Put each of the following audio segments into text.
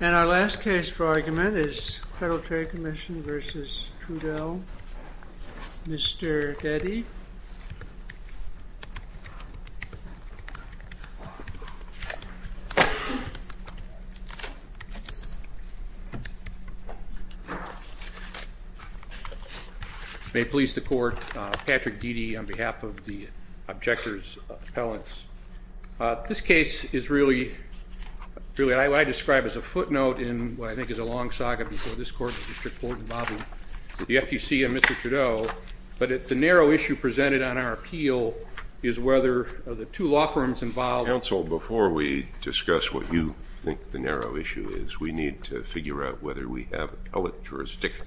And our last case for argument is Federal Trade Commission v. Trudeau. Mr. Getty. May it please the court, Patrick Deedy on behalf of the objectors appellants. This I describe as a footnote in what I think is a long saga before this court, Mr. Trudeau. But the narrow issue presented on our appeal is whether the two law firms involved. Counsel, before we discuss what you think the narrow issue is, we need to figure out whether we have a jurisdiction.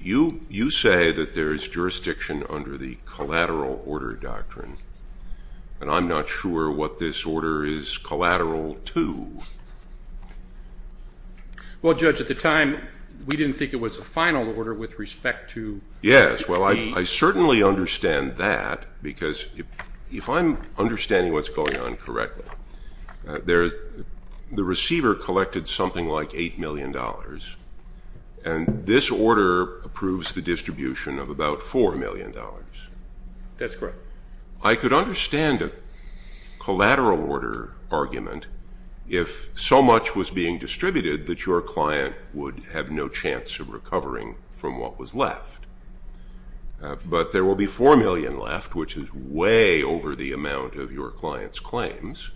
You say that there is jurisdiction under the collateral order doctrine, and I'm not sure what this order is collateral to. Well, Judge, at the time, we didn't think it was a final order with respect to trade. Yes, well, I certainly understand that, because if I'm understanding what's going on correctly, the receiver collected something like $8 million, and this order approves the distribution of about $4 million. That's correct. I could understand a collateral order argument if so much was being distributed that your client would have no chance of recovering from what was left. But there will be $4 million left, which is way over the amount of your client's claims.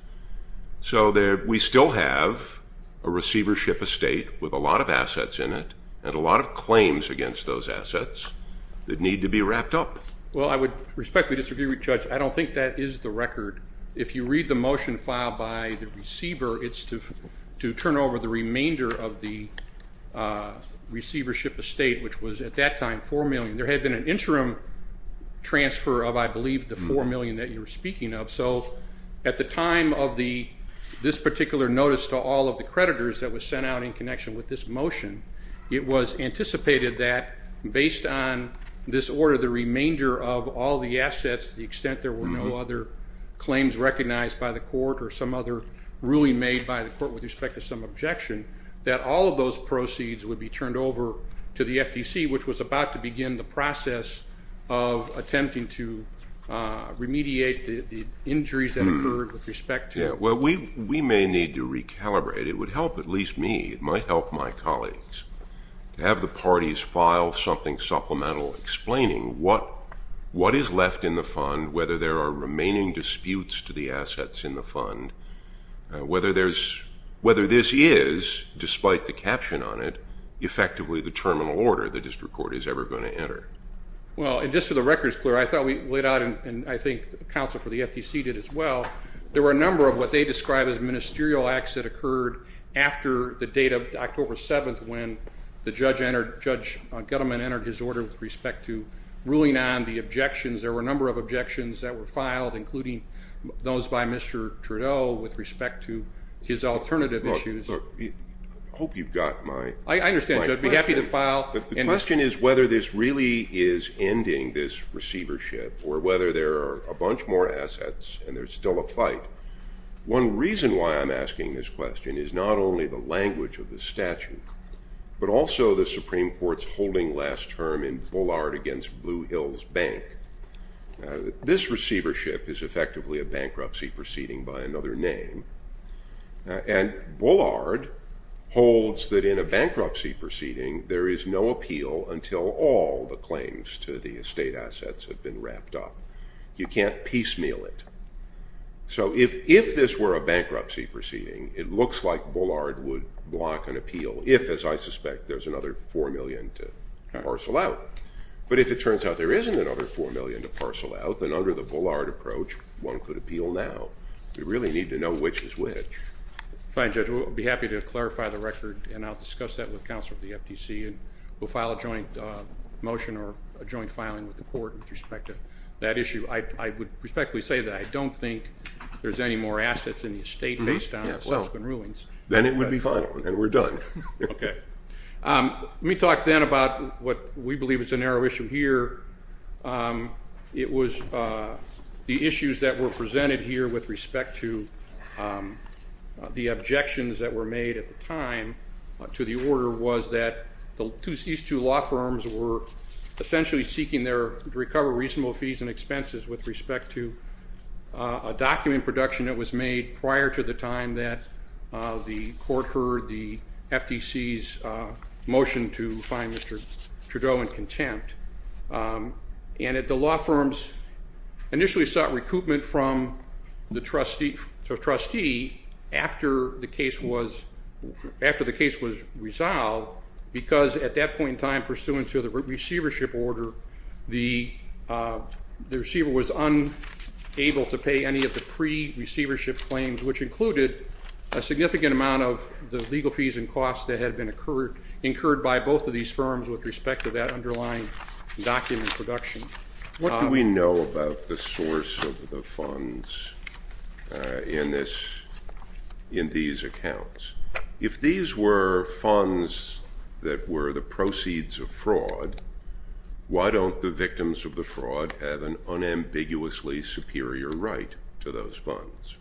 So we still have a receivership estate with a lot of assets in it and a lot of claims against those assets that need to be wrapped up. Well, I would respectfully disagree with you, Judge. I don't think that is the record. If you read the motion filed by the receiver, it's to turn over the remainder of the receivership estate, which was at that time $4 million. There had been an interim transfer of, I believe, the $4 million that you were speaking of. So at the time of this particular notice to all of the creditors that was sent out in connection with this motion, it was anticipated that based on this order, the remainder of all the assets, to the extent there were no other claims recognized by the court or some other ruling made by the court with respect to some objection, that all of those proceeds would be turned over to the FTC, which was about to begin the process of attempting to remediate the injuries that occurred with respect to it. Yeah. Well, we may need to recalibrate. It would help at least me. It might help my colleagues to have the parties file something supplemental explaining what is left in the fund, whether there are remaining disputes to the assets in the fund, whether this is, despite the caption on it, effectively the terminal order the district court is ever going to enter. Well, and just so the record is clear, I thought we laid out, and I think the counsel for the court, what they described as ministerial acts that occurred after the date of October 7th, when Judge Gettleman entered his order with respect to ruling on the objections. There were a number of objections that were filed, including those by Mr. Trudeau with respect to his alternative issues. Look, look, I hope you've got my question. I understand, Judge. I'd be happy to file. But the question is whether this really is ending this receivership or whether there are a bunch more assets and there's still a fight. One reason why I'm asking this question is not only the language of the statute, but also the Supreme Court's holding last term in Bullard against Blue Hills Bank. This receivership is effectively a bankruptcy proceeding by another name. And Bullard holds that in a bankruptcy proceeding, there is no appeal until all the claims to the estate assets have been wrapped up. You can't piecemeal it. So if this were a bankruptcy proceeding, it looks like Bullard would block an appeal if, as I suspect, there's another $4 million to parcel out. But if it turns out there isn't another $4 million to parcel out, then under the Bullard approach, one could appeal now. We really need to know which is which. Fine, Judge. We'll be happy to clarify the record, and I'll discuss that with counsel of the FTC, and we'll file a joint motion or a joint filing with the court with respect to that issue. I would respectfully say that I don't think there's any more assets in the estate based on subsequent rulings. Then it would be final, and we're done. Okay. Let me talk then about what we believe is a narrow issue here. It was the issues that were presented here with respect to the objections that were made at the time to the case, was that these two law firms were essentially seeking to recover reasonable fees and expenses with respect to a document production that was made prior to the time that the court heard the FTC's motion to find Mr. Trudeau in contempt. And that the law firms initially sought recoupment from the trustee after the case was resolved, and they were able to do that because at that point in time, pursuant to the receivership order, the receiver was unable to pay any of the pre-receivership claims, which included a significant amount of the legal fees and costs that had been incurred by both of these firms with respect to that underlying document production. What do we know about the source of the funds in these accounts? If these were funds that were the proceeds of fraud, why don't the victims of the fraud have an unambiguously superior right to those funds?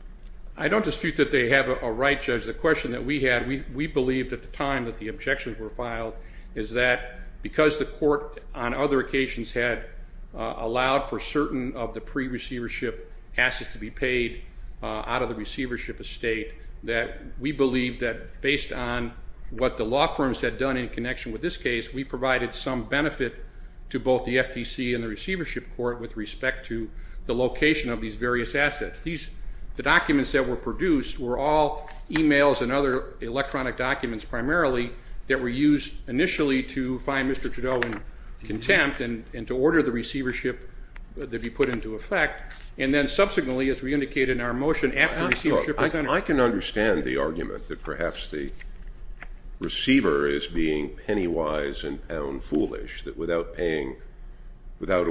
I don't dispute that they have a right, Judge. The question that we had, we believed at the time that the objections were filed, is that because the court on other occasions had allowed for certain of the pre-receivership assets to be paid out of the receivership estate, that we believed that based on what the law firms had done in connection with this case, we provided some benefit to both the FTC and the receivership court with respect to the location of these various assets. The documents that were produced were all emails and other electronic documents primarily that were used initially to find Mr. Trudeau in contempt and to order the receivership to be put into effect, and then subsequently it's re-indicated in our motion after receivership was entered. I can understand the argument that perhaps the receiver is being penny-wise and pound-foolish, that without a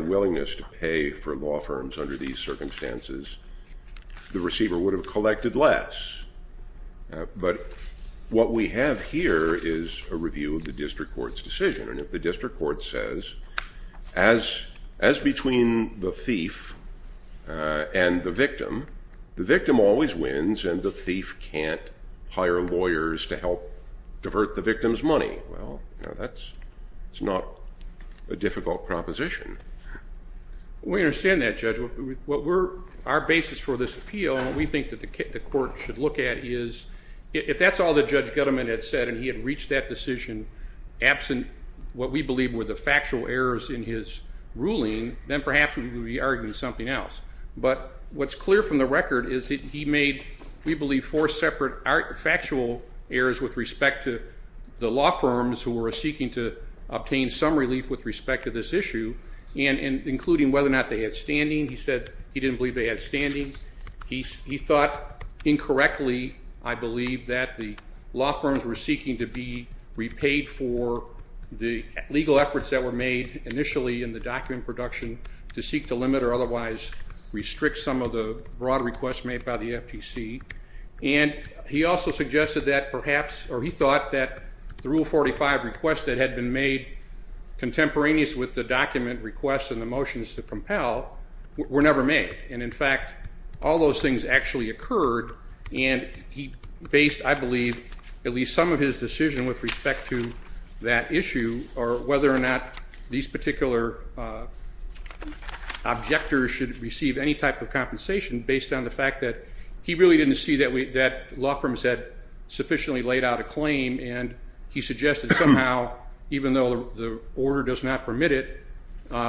willingness to pay for law firms under these circumstances, the receiver would have collected less. But what we have here is a review of the district court's decision, and if the district court says, as between the thief and the victim, the victim always wins and the thief can't hire lawyers to help divert the victim's money, well, that's not a difficult proposition. We understand that, Judge. Our basis for this appeal, we think that the court should look at is, if that's all that Judge Gutteman had said and he had reached that decision absent what we believe were the factual errors in his ruling, then perhaps we would be arguing something else. But what's clear from the record is that he made, we believe, four separate factual errors with respect to the law firms who were seeking to obtain some relief with respect to this issue, including whether or not they had standing. He said he didn't believe they had standing. He thought incorrectly, I believe, that the law firms were seeking to be repaid for the legal efforts that were made initially in the document production to seek to limit or otherwise restrict some of the broad requests made by the FTC. And he also suggested that perhaps, or he thought that the Rule 45 requests that had been made contemporaneous with the document requests and the motions to compel were never made. And in fact, all those things actually occurred. And he based, I believe, at least some of his decision with respect to that issue or whether or not these particular objectors should receive any type of compensation based on the fact that he really didn't see that law firms had sufficiently laid out a claim. And he suggested somehow, even though the order does not permit it,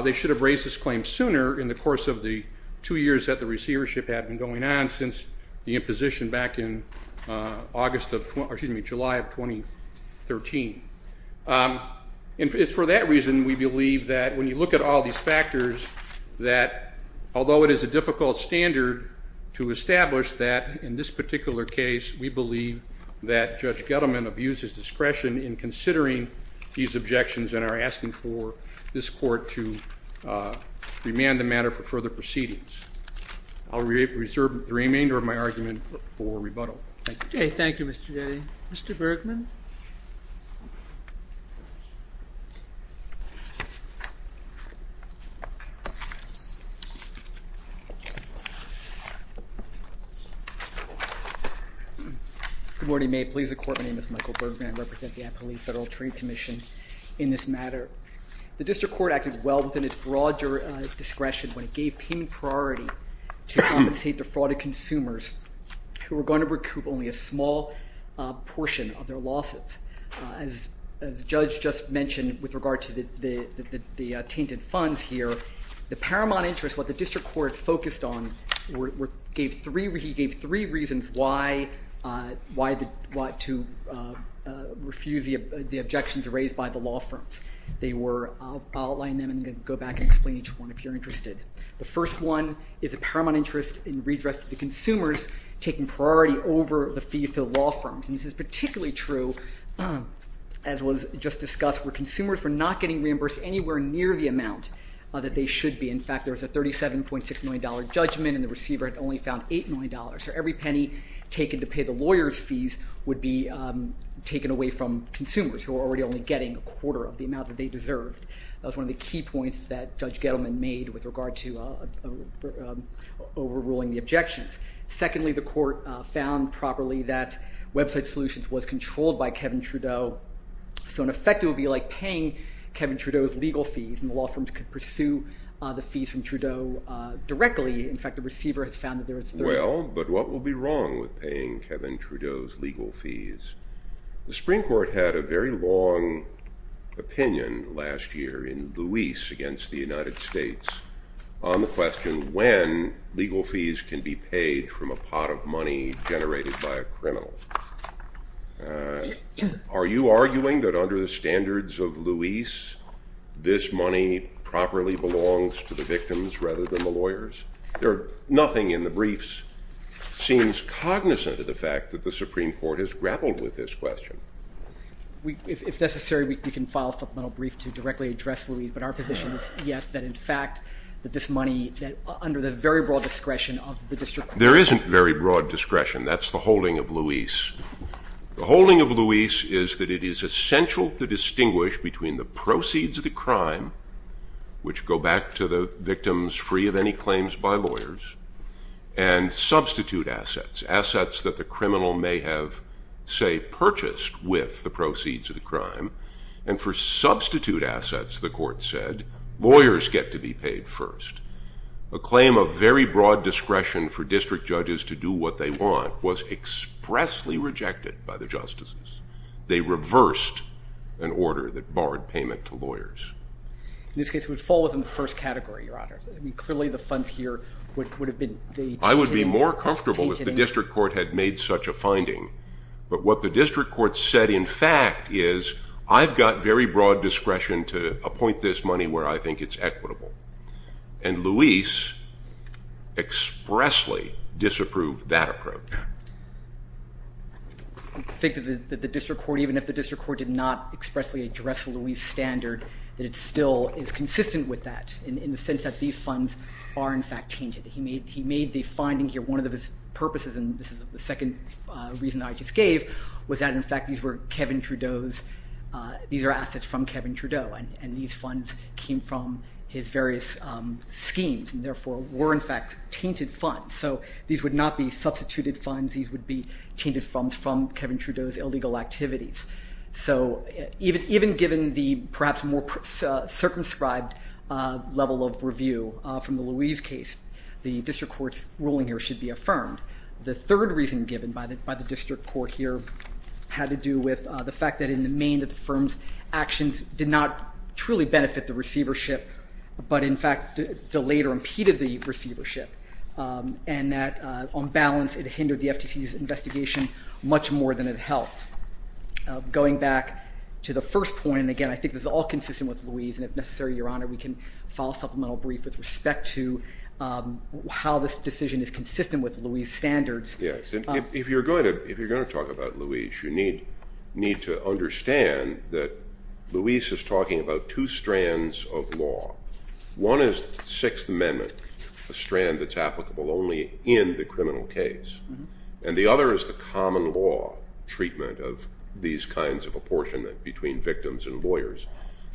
they should have raised this claim sooner in the course of the two years that the receivership had been going on since the imposition back in July of 2013. And it's for that reason, we believe, that when you look at all these factors, that although it is a difficult standard to establish that in this particular case, we believe that Judge Gettleman abused his discretion in considering these objections and are asking for this court to remand the matter for further proceedings. I'll reserve the remainder of my argument for rebuttal. Thank you. Okay. Thank you, Mr. Getty. Mr. Bergman? Good morning. May it please the Court, my name is Michael Bergman. I represent the Appalachian Federal Trade Commission in this matter. The district court acted well within its broad discretion when it gave payment priority to compensate the fraud of consumers who were going to recoup only a small portion of their losses. As Judge just mentioned with regard to the tainted funds here, the paramount interest, what the district court focused on, he gave three reasons why to refuse the objections raised by the law firms. I'll outline them and then go back and explain each one if you're interested. The first one is a paramount interest in redress to the consumers taking priority over the fees to the law firms. And this is particularly true, as was just discussed, where consumers were not getting reimbursed anywhere near the amount that they should be. In fact, there was a $37.6 million judgment and the receiver had only found $8 million. So every penny taken to pay the lawyer's fees would be taken away from consumers who were already only getting a quarter of the amount that they deserved. That was one of the key points that Judge Gettleman made with regard to overruling the objections. Secondly, the court found properly that Website Solutions was controlled by Kevin Trudeau. So in effect, it would be like paying Kevin Trudeau's legal fees and the law firms could pursue the fees from Trudeau directly. In fact, the receiver has found that there was $30 million. Well, but what will be wrong with paying Kevin Trudeau's legal fees? The Supreme Court had a very long opinion last year in Luis against the United States on the question when legal fees can be paid from a pot of money generated by a district court. There isn't very broad discretion. That's the holding of Luis. The holding of which go back to the victims free of any claims by lawyers and substitute assets, assets that the criminal may have, say, purchased with the proceeds of the crime. And for substitute assets, the court said, lawyers get to be paid first. A claim of very broad discretion for district judges to do what they want was expressly rejected by the justices. They reversed an order that barred payment to lawyers. In this case, it would fall within the first category, Your Honor. I mean, clearly the funds here would have been... I would be more comfortable if the district court had made such a finding. But what the district court said, in fact, is I've got very broad discretion to appoint this money where I think it's equitable. And Luis expressly disapproved that approach. I think that the district court, even if the district court did not expressly address Luis' standard, that it still is consistent with that in the sense that these funds are, in fact, tainted. He made the finding here, one of his purposes, and this is the second reason I just gave, was that, in fact, these were Kevin Trudeau's, these are assets from Kevin Trudeau, and these funds came from his various schemes and, therefore, were, in fact, tainted funds. So these would not be substituted funds. These would be tainted funds from Kevin Trudeau's illegal activities. So even given the perhaps more circumscribed level of review from the Luis case, the district court's ruling here should be affirmed. The third reason given by the district court here had to do with the fact that, in the main, that the firm's actions did not truly benefit the receivership, but, in fact, delayed or impeded the receivership, and that, on balance, it hindered the FTC's investigation much more than it helped. Going back to the first point, and again, I think this is all consistent with Luis, and if necessary, Your Honor, we can file a supplemental brief with respect to how this decision is consistent with Luis' standards. Yes. If you're going to talk about Luis, you need to understand that Luis is talking about two strands of law. One is the Sixth Amendment, a strand that's applicable only in the criminal case, and the other is the common law treatment of these kinds of apportionment between victims and lawyers.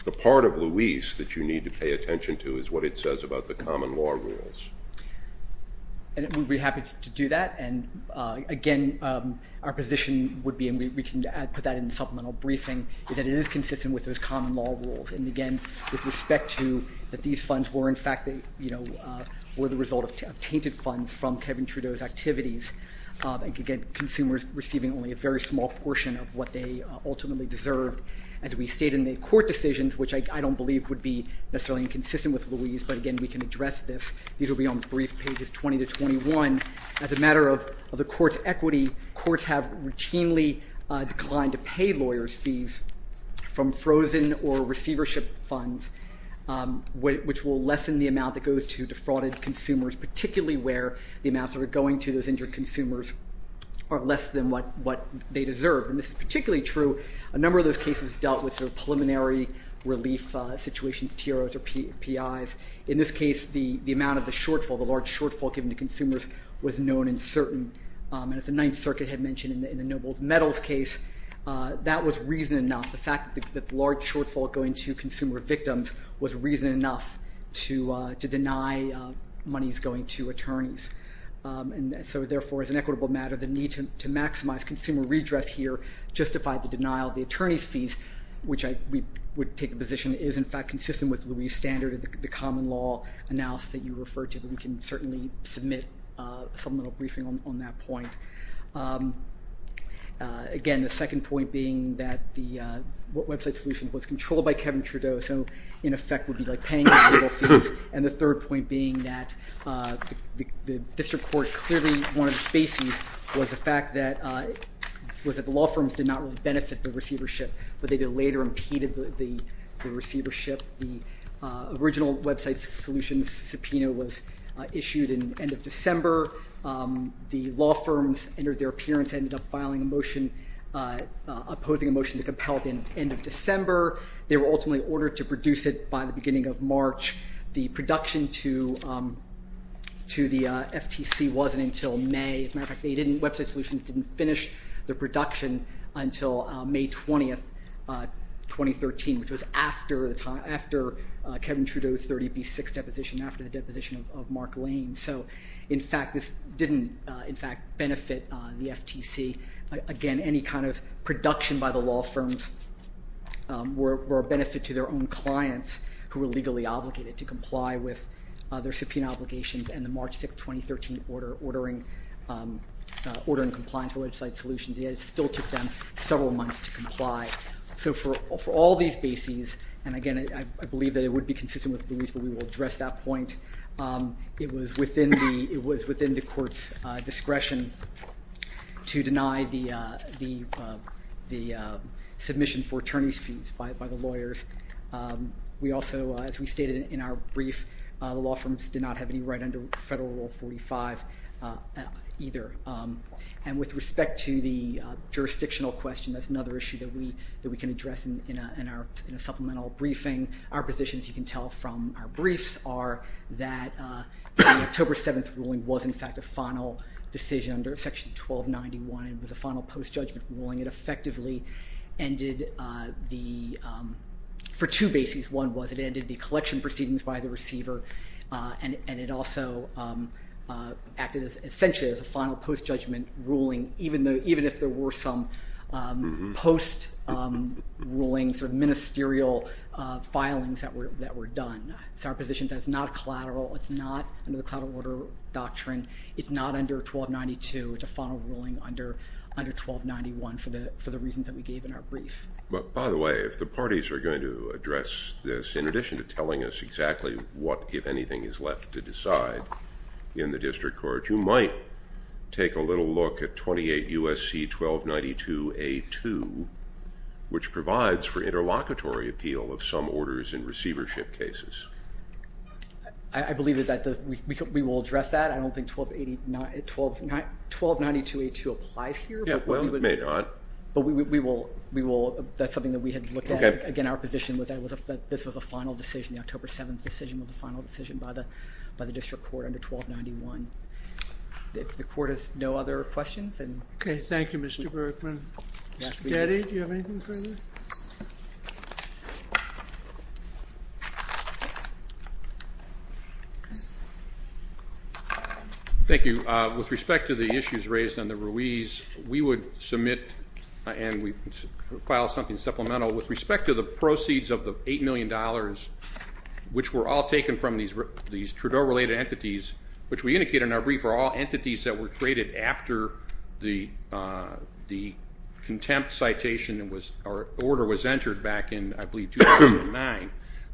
The part of Luis that you need to pay attention to is what it I'm happy to do that, and, again, our position would be, and we can put that in the supplemental briefing, is that it is consistent with those common law rules, and, again, with respect to that these funds were, in fact, that, you know, were the result of tainted funds from Kevin Trudeau's activities, and, again, consumers receiving only a very small portion of what they ultimately deserved, as we state in the court decisions, which I don't believe would be necessarily inconsistent with Luis, but, again, we can address this. These will be on brief pages 20 to 21, as a matter of the court's equity. Courts have routinely declined to pay lawyers' fees from frozen or receivership funds, which will lessen the amount that goes to defrauded consumers, particularly where the amounts that are going to those injured consumers are less than what they deserve. And this is particularly true, a number of those cases dealt with sort of preliminary relief situations, TROs or PIs. In this case, the amount of the large shortfall given to consumers was known and certain, and as the Ninth Circuit had mentioned in the Nobles-Meadows case, that was reason enough, the fact that the large shortfall going to consumer victims was reason enough to deny monies going to attorneys. And so, therefore, as an equitable matter, the need to maximize consumer redress here justified the denial of the attorneys' fees, which I would take the position is, in fact, consistent with Luis' standard of the common law analysis that you refer to, but we can certainly submit a supplemental briefing on that point. Again, the second point being that the website solution was controlled by Kevin Trudeau, so in effect would be like paying the legal fees, and the third point being that the district court clearly, one of the spaces was the fact that the law firms did not really benefit the receivership, but they later impeded the receivership. The original website solutions subpoena was issued in the end of December. The law firms entered their appearance, ended up filing a motion, opposing a motion to compel it in the end of December. They were ultimately ordered to produce it by the beginning of March. The production to the FTC wasn't until May. As a matter of fact, they didn't, Website Solutions didn't finish their subpoena in March 2013, which was after Kevin Trudeau's 30B6 deposition, after the deposition of Mark Lane. So in fact, this didn't, in fact, benefit the FTC. Again, any kind of production by the law firms were a benefit to their own clients who were legally obligated to comply with their subpoena So for all these bases, and again, I believe that it would be consistent with Louise, but we will address that point. It was within the court's discretion to deny the submission for attorney's fees by the lawyers. We also, as we stated in our brief, the law firms did not have any right under Federal Rule 45 either. And with this in a supplemental briefing, our positions, you can tell from our briefs, are that the October 7th ruling was in fact a final decision under Section 1291. It was a final post-judgment ruling. It effectively ended the, for two bases. One was it ended the collection proceedings by the receiver, and it also acted essentially as a final post-judgment ruling, even if there were some post-rulings or ministerial filings that were done. It's our position that it's not collateral. It's not under the collateral order doctrine. It's not under 1292. It's a final ruling under 1291 for the reasons that we gave in our brief. By the way, if the parties are going to address this, in addition to telling us exactly what, if anything, is left to decide in the district court, you might take a little look at 28 U.S.C. 1292A2, which provides for interlocutory appeal of some orders in receivership cases. I believe that we will address that. I don't think 1292A2 applies here. Yeah, well, it may not. But we will. That's something that we had looked at. Again, our position was that this was a final decision. The October 7th decision was a final decision by the district court under 1291. If the court has no other questions. Okay, thank you, Mr. Berkman. Mr. Getty, do you have anything further? Thank you. With respect to the issues raised on the Ruiz, we would submit and we would file something supplemental with respect to the proceeds of the $8 million, which were all taken from these Trudeau-related entities, which we indicate in our brief are all entities that were created after the contempt citation was, or, the order was entered back in, I believe, 2009.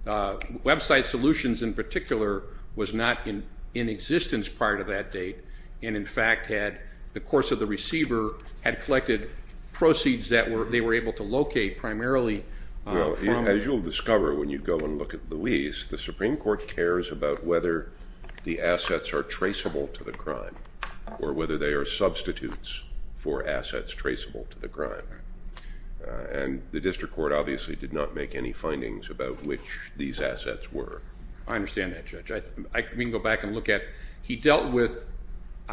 Website Solutions, in particular, was not in existence prior to that date and, in fact, had, the course of the receiver had collected proceeds that they were able to locate primarily from. Well, as you'll discover when you go and look at the Ruiz, the Supreme Court cares about whether the assets are traceable to the crime or whether they are substitutes for assets traceable to the crime. And the district court obviously did not make any findings about which these assets were. I understand that, Judge. We can go back and look at, he dealt with,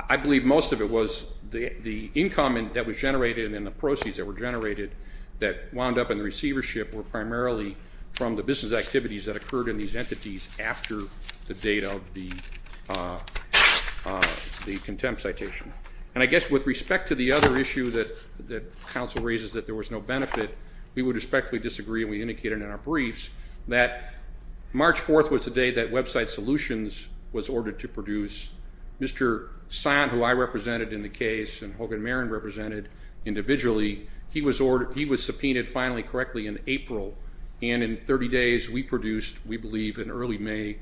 I believe most of it was the income that was generated and the proceeds that were generated that wound up in the receivership were primarily from the business activities that occurred in these entities after the date of the contempt citation. And I guess with respect to the other issue that counsel raises, that there was no benefit, we would respectfully disagree, and we indicate it in our briefs, that March 4th was the day that Website Solutions was ordered to produce. Mr. Sand, who I represented in the case, and Hogan Marin represented individually, he was subpoenaed finally correctly in April. And in 30 days, we produced, we believe, in early May,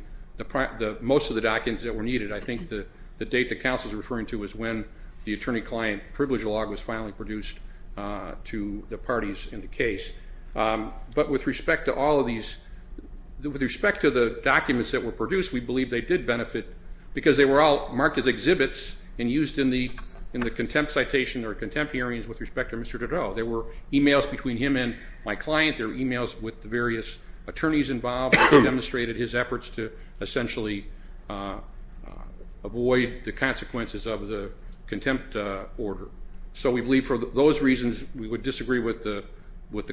most of the documents that were needed. I think the date that counsel is referring to is when the attorney-client privilege log was finally produced to the parties in the case. But with respect to all of these, with respect to the documents that were produced, we believe they did benefit because they were all marked as exhibits and used in the contempt citation or contempt hearings with respect to Mr. Dureau. There were emails between him and my client. There were emails with the various attorneys involved that demonstrated his efforts to essentially avoid the consequences of the contempt order. So we believe, for those reasons, we would disagree with the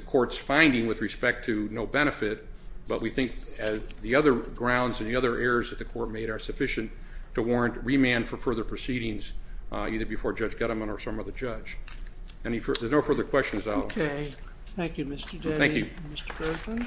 court's finding with respect to no benefit. But we think the other grounds and the other errors that the court made are sufficient to warrant remand for further proceedings, either before Judge Gettemann or some other judge. There's no further questions. Okay. Thank you, Mr. Denny. Thank you. Mr. Berkman.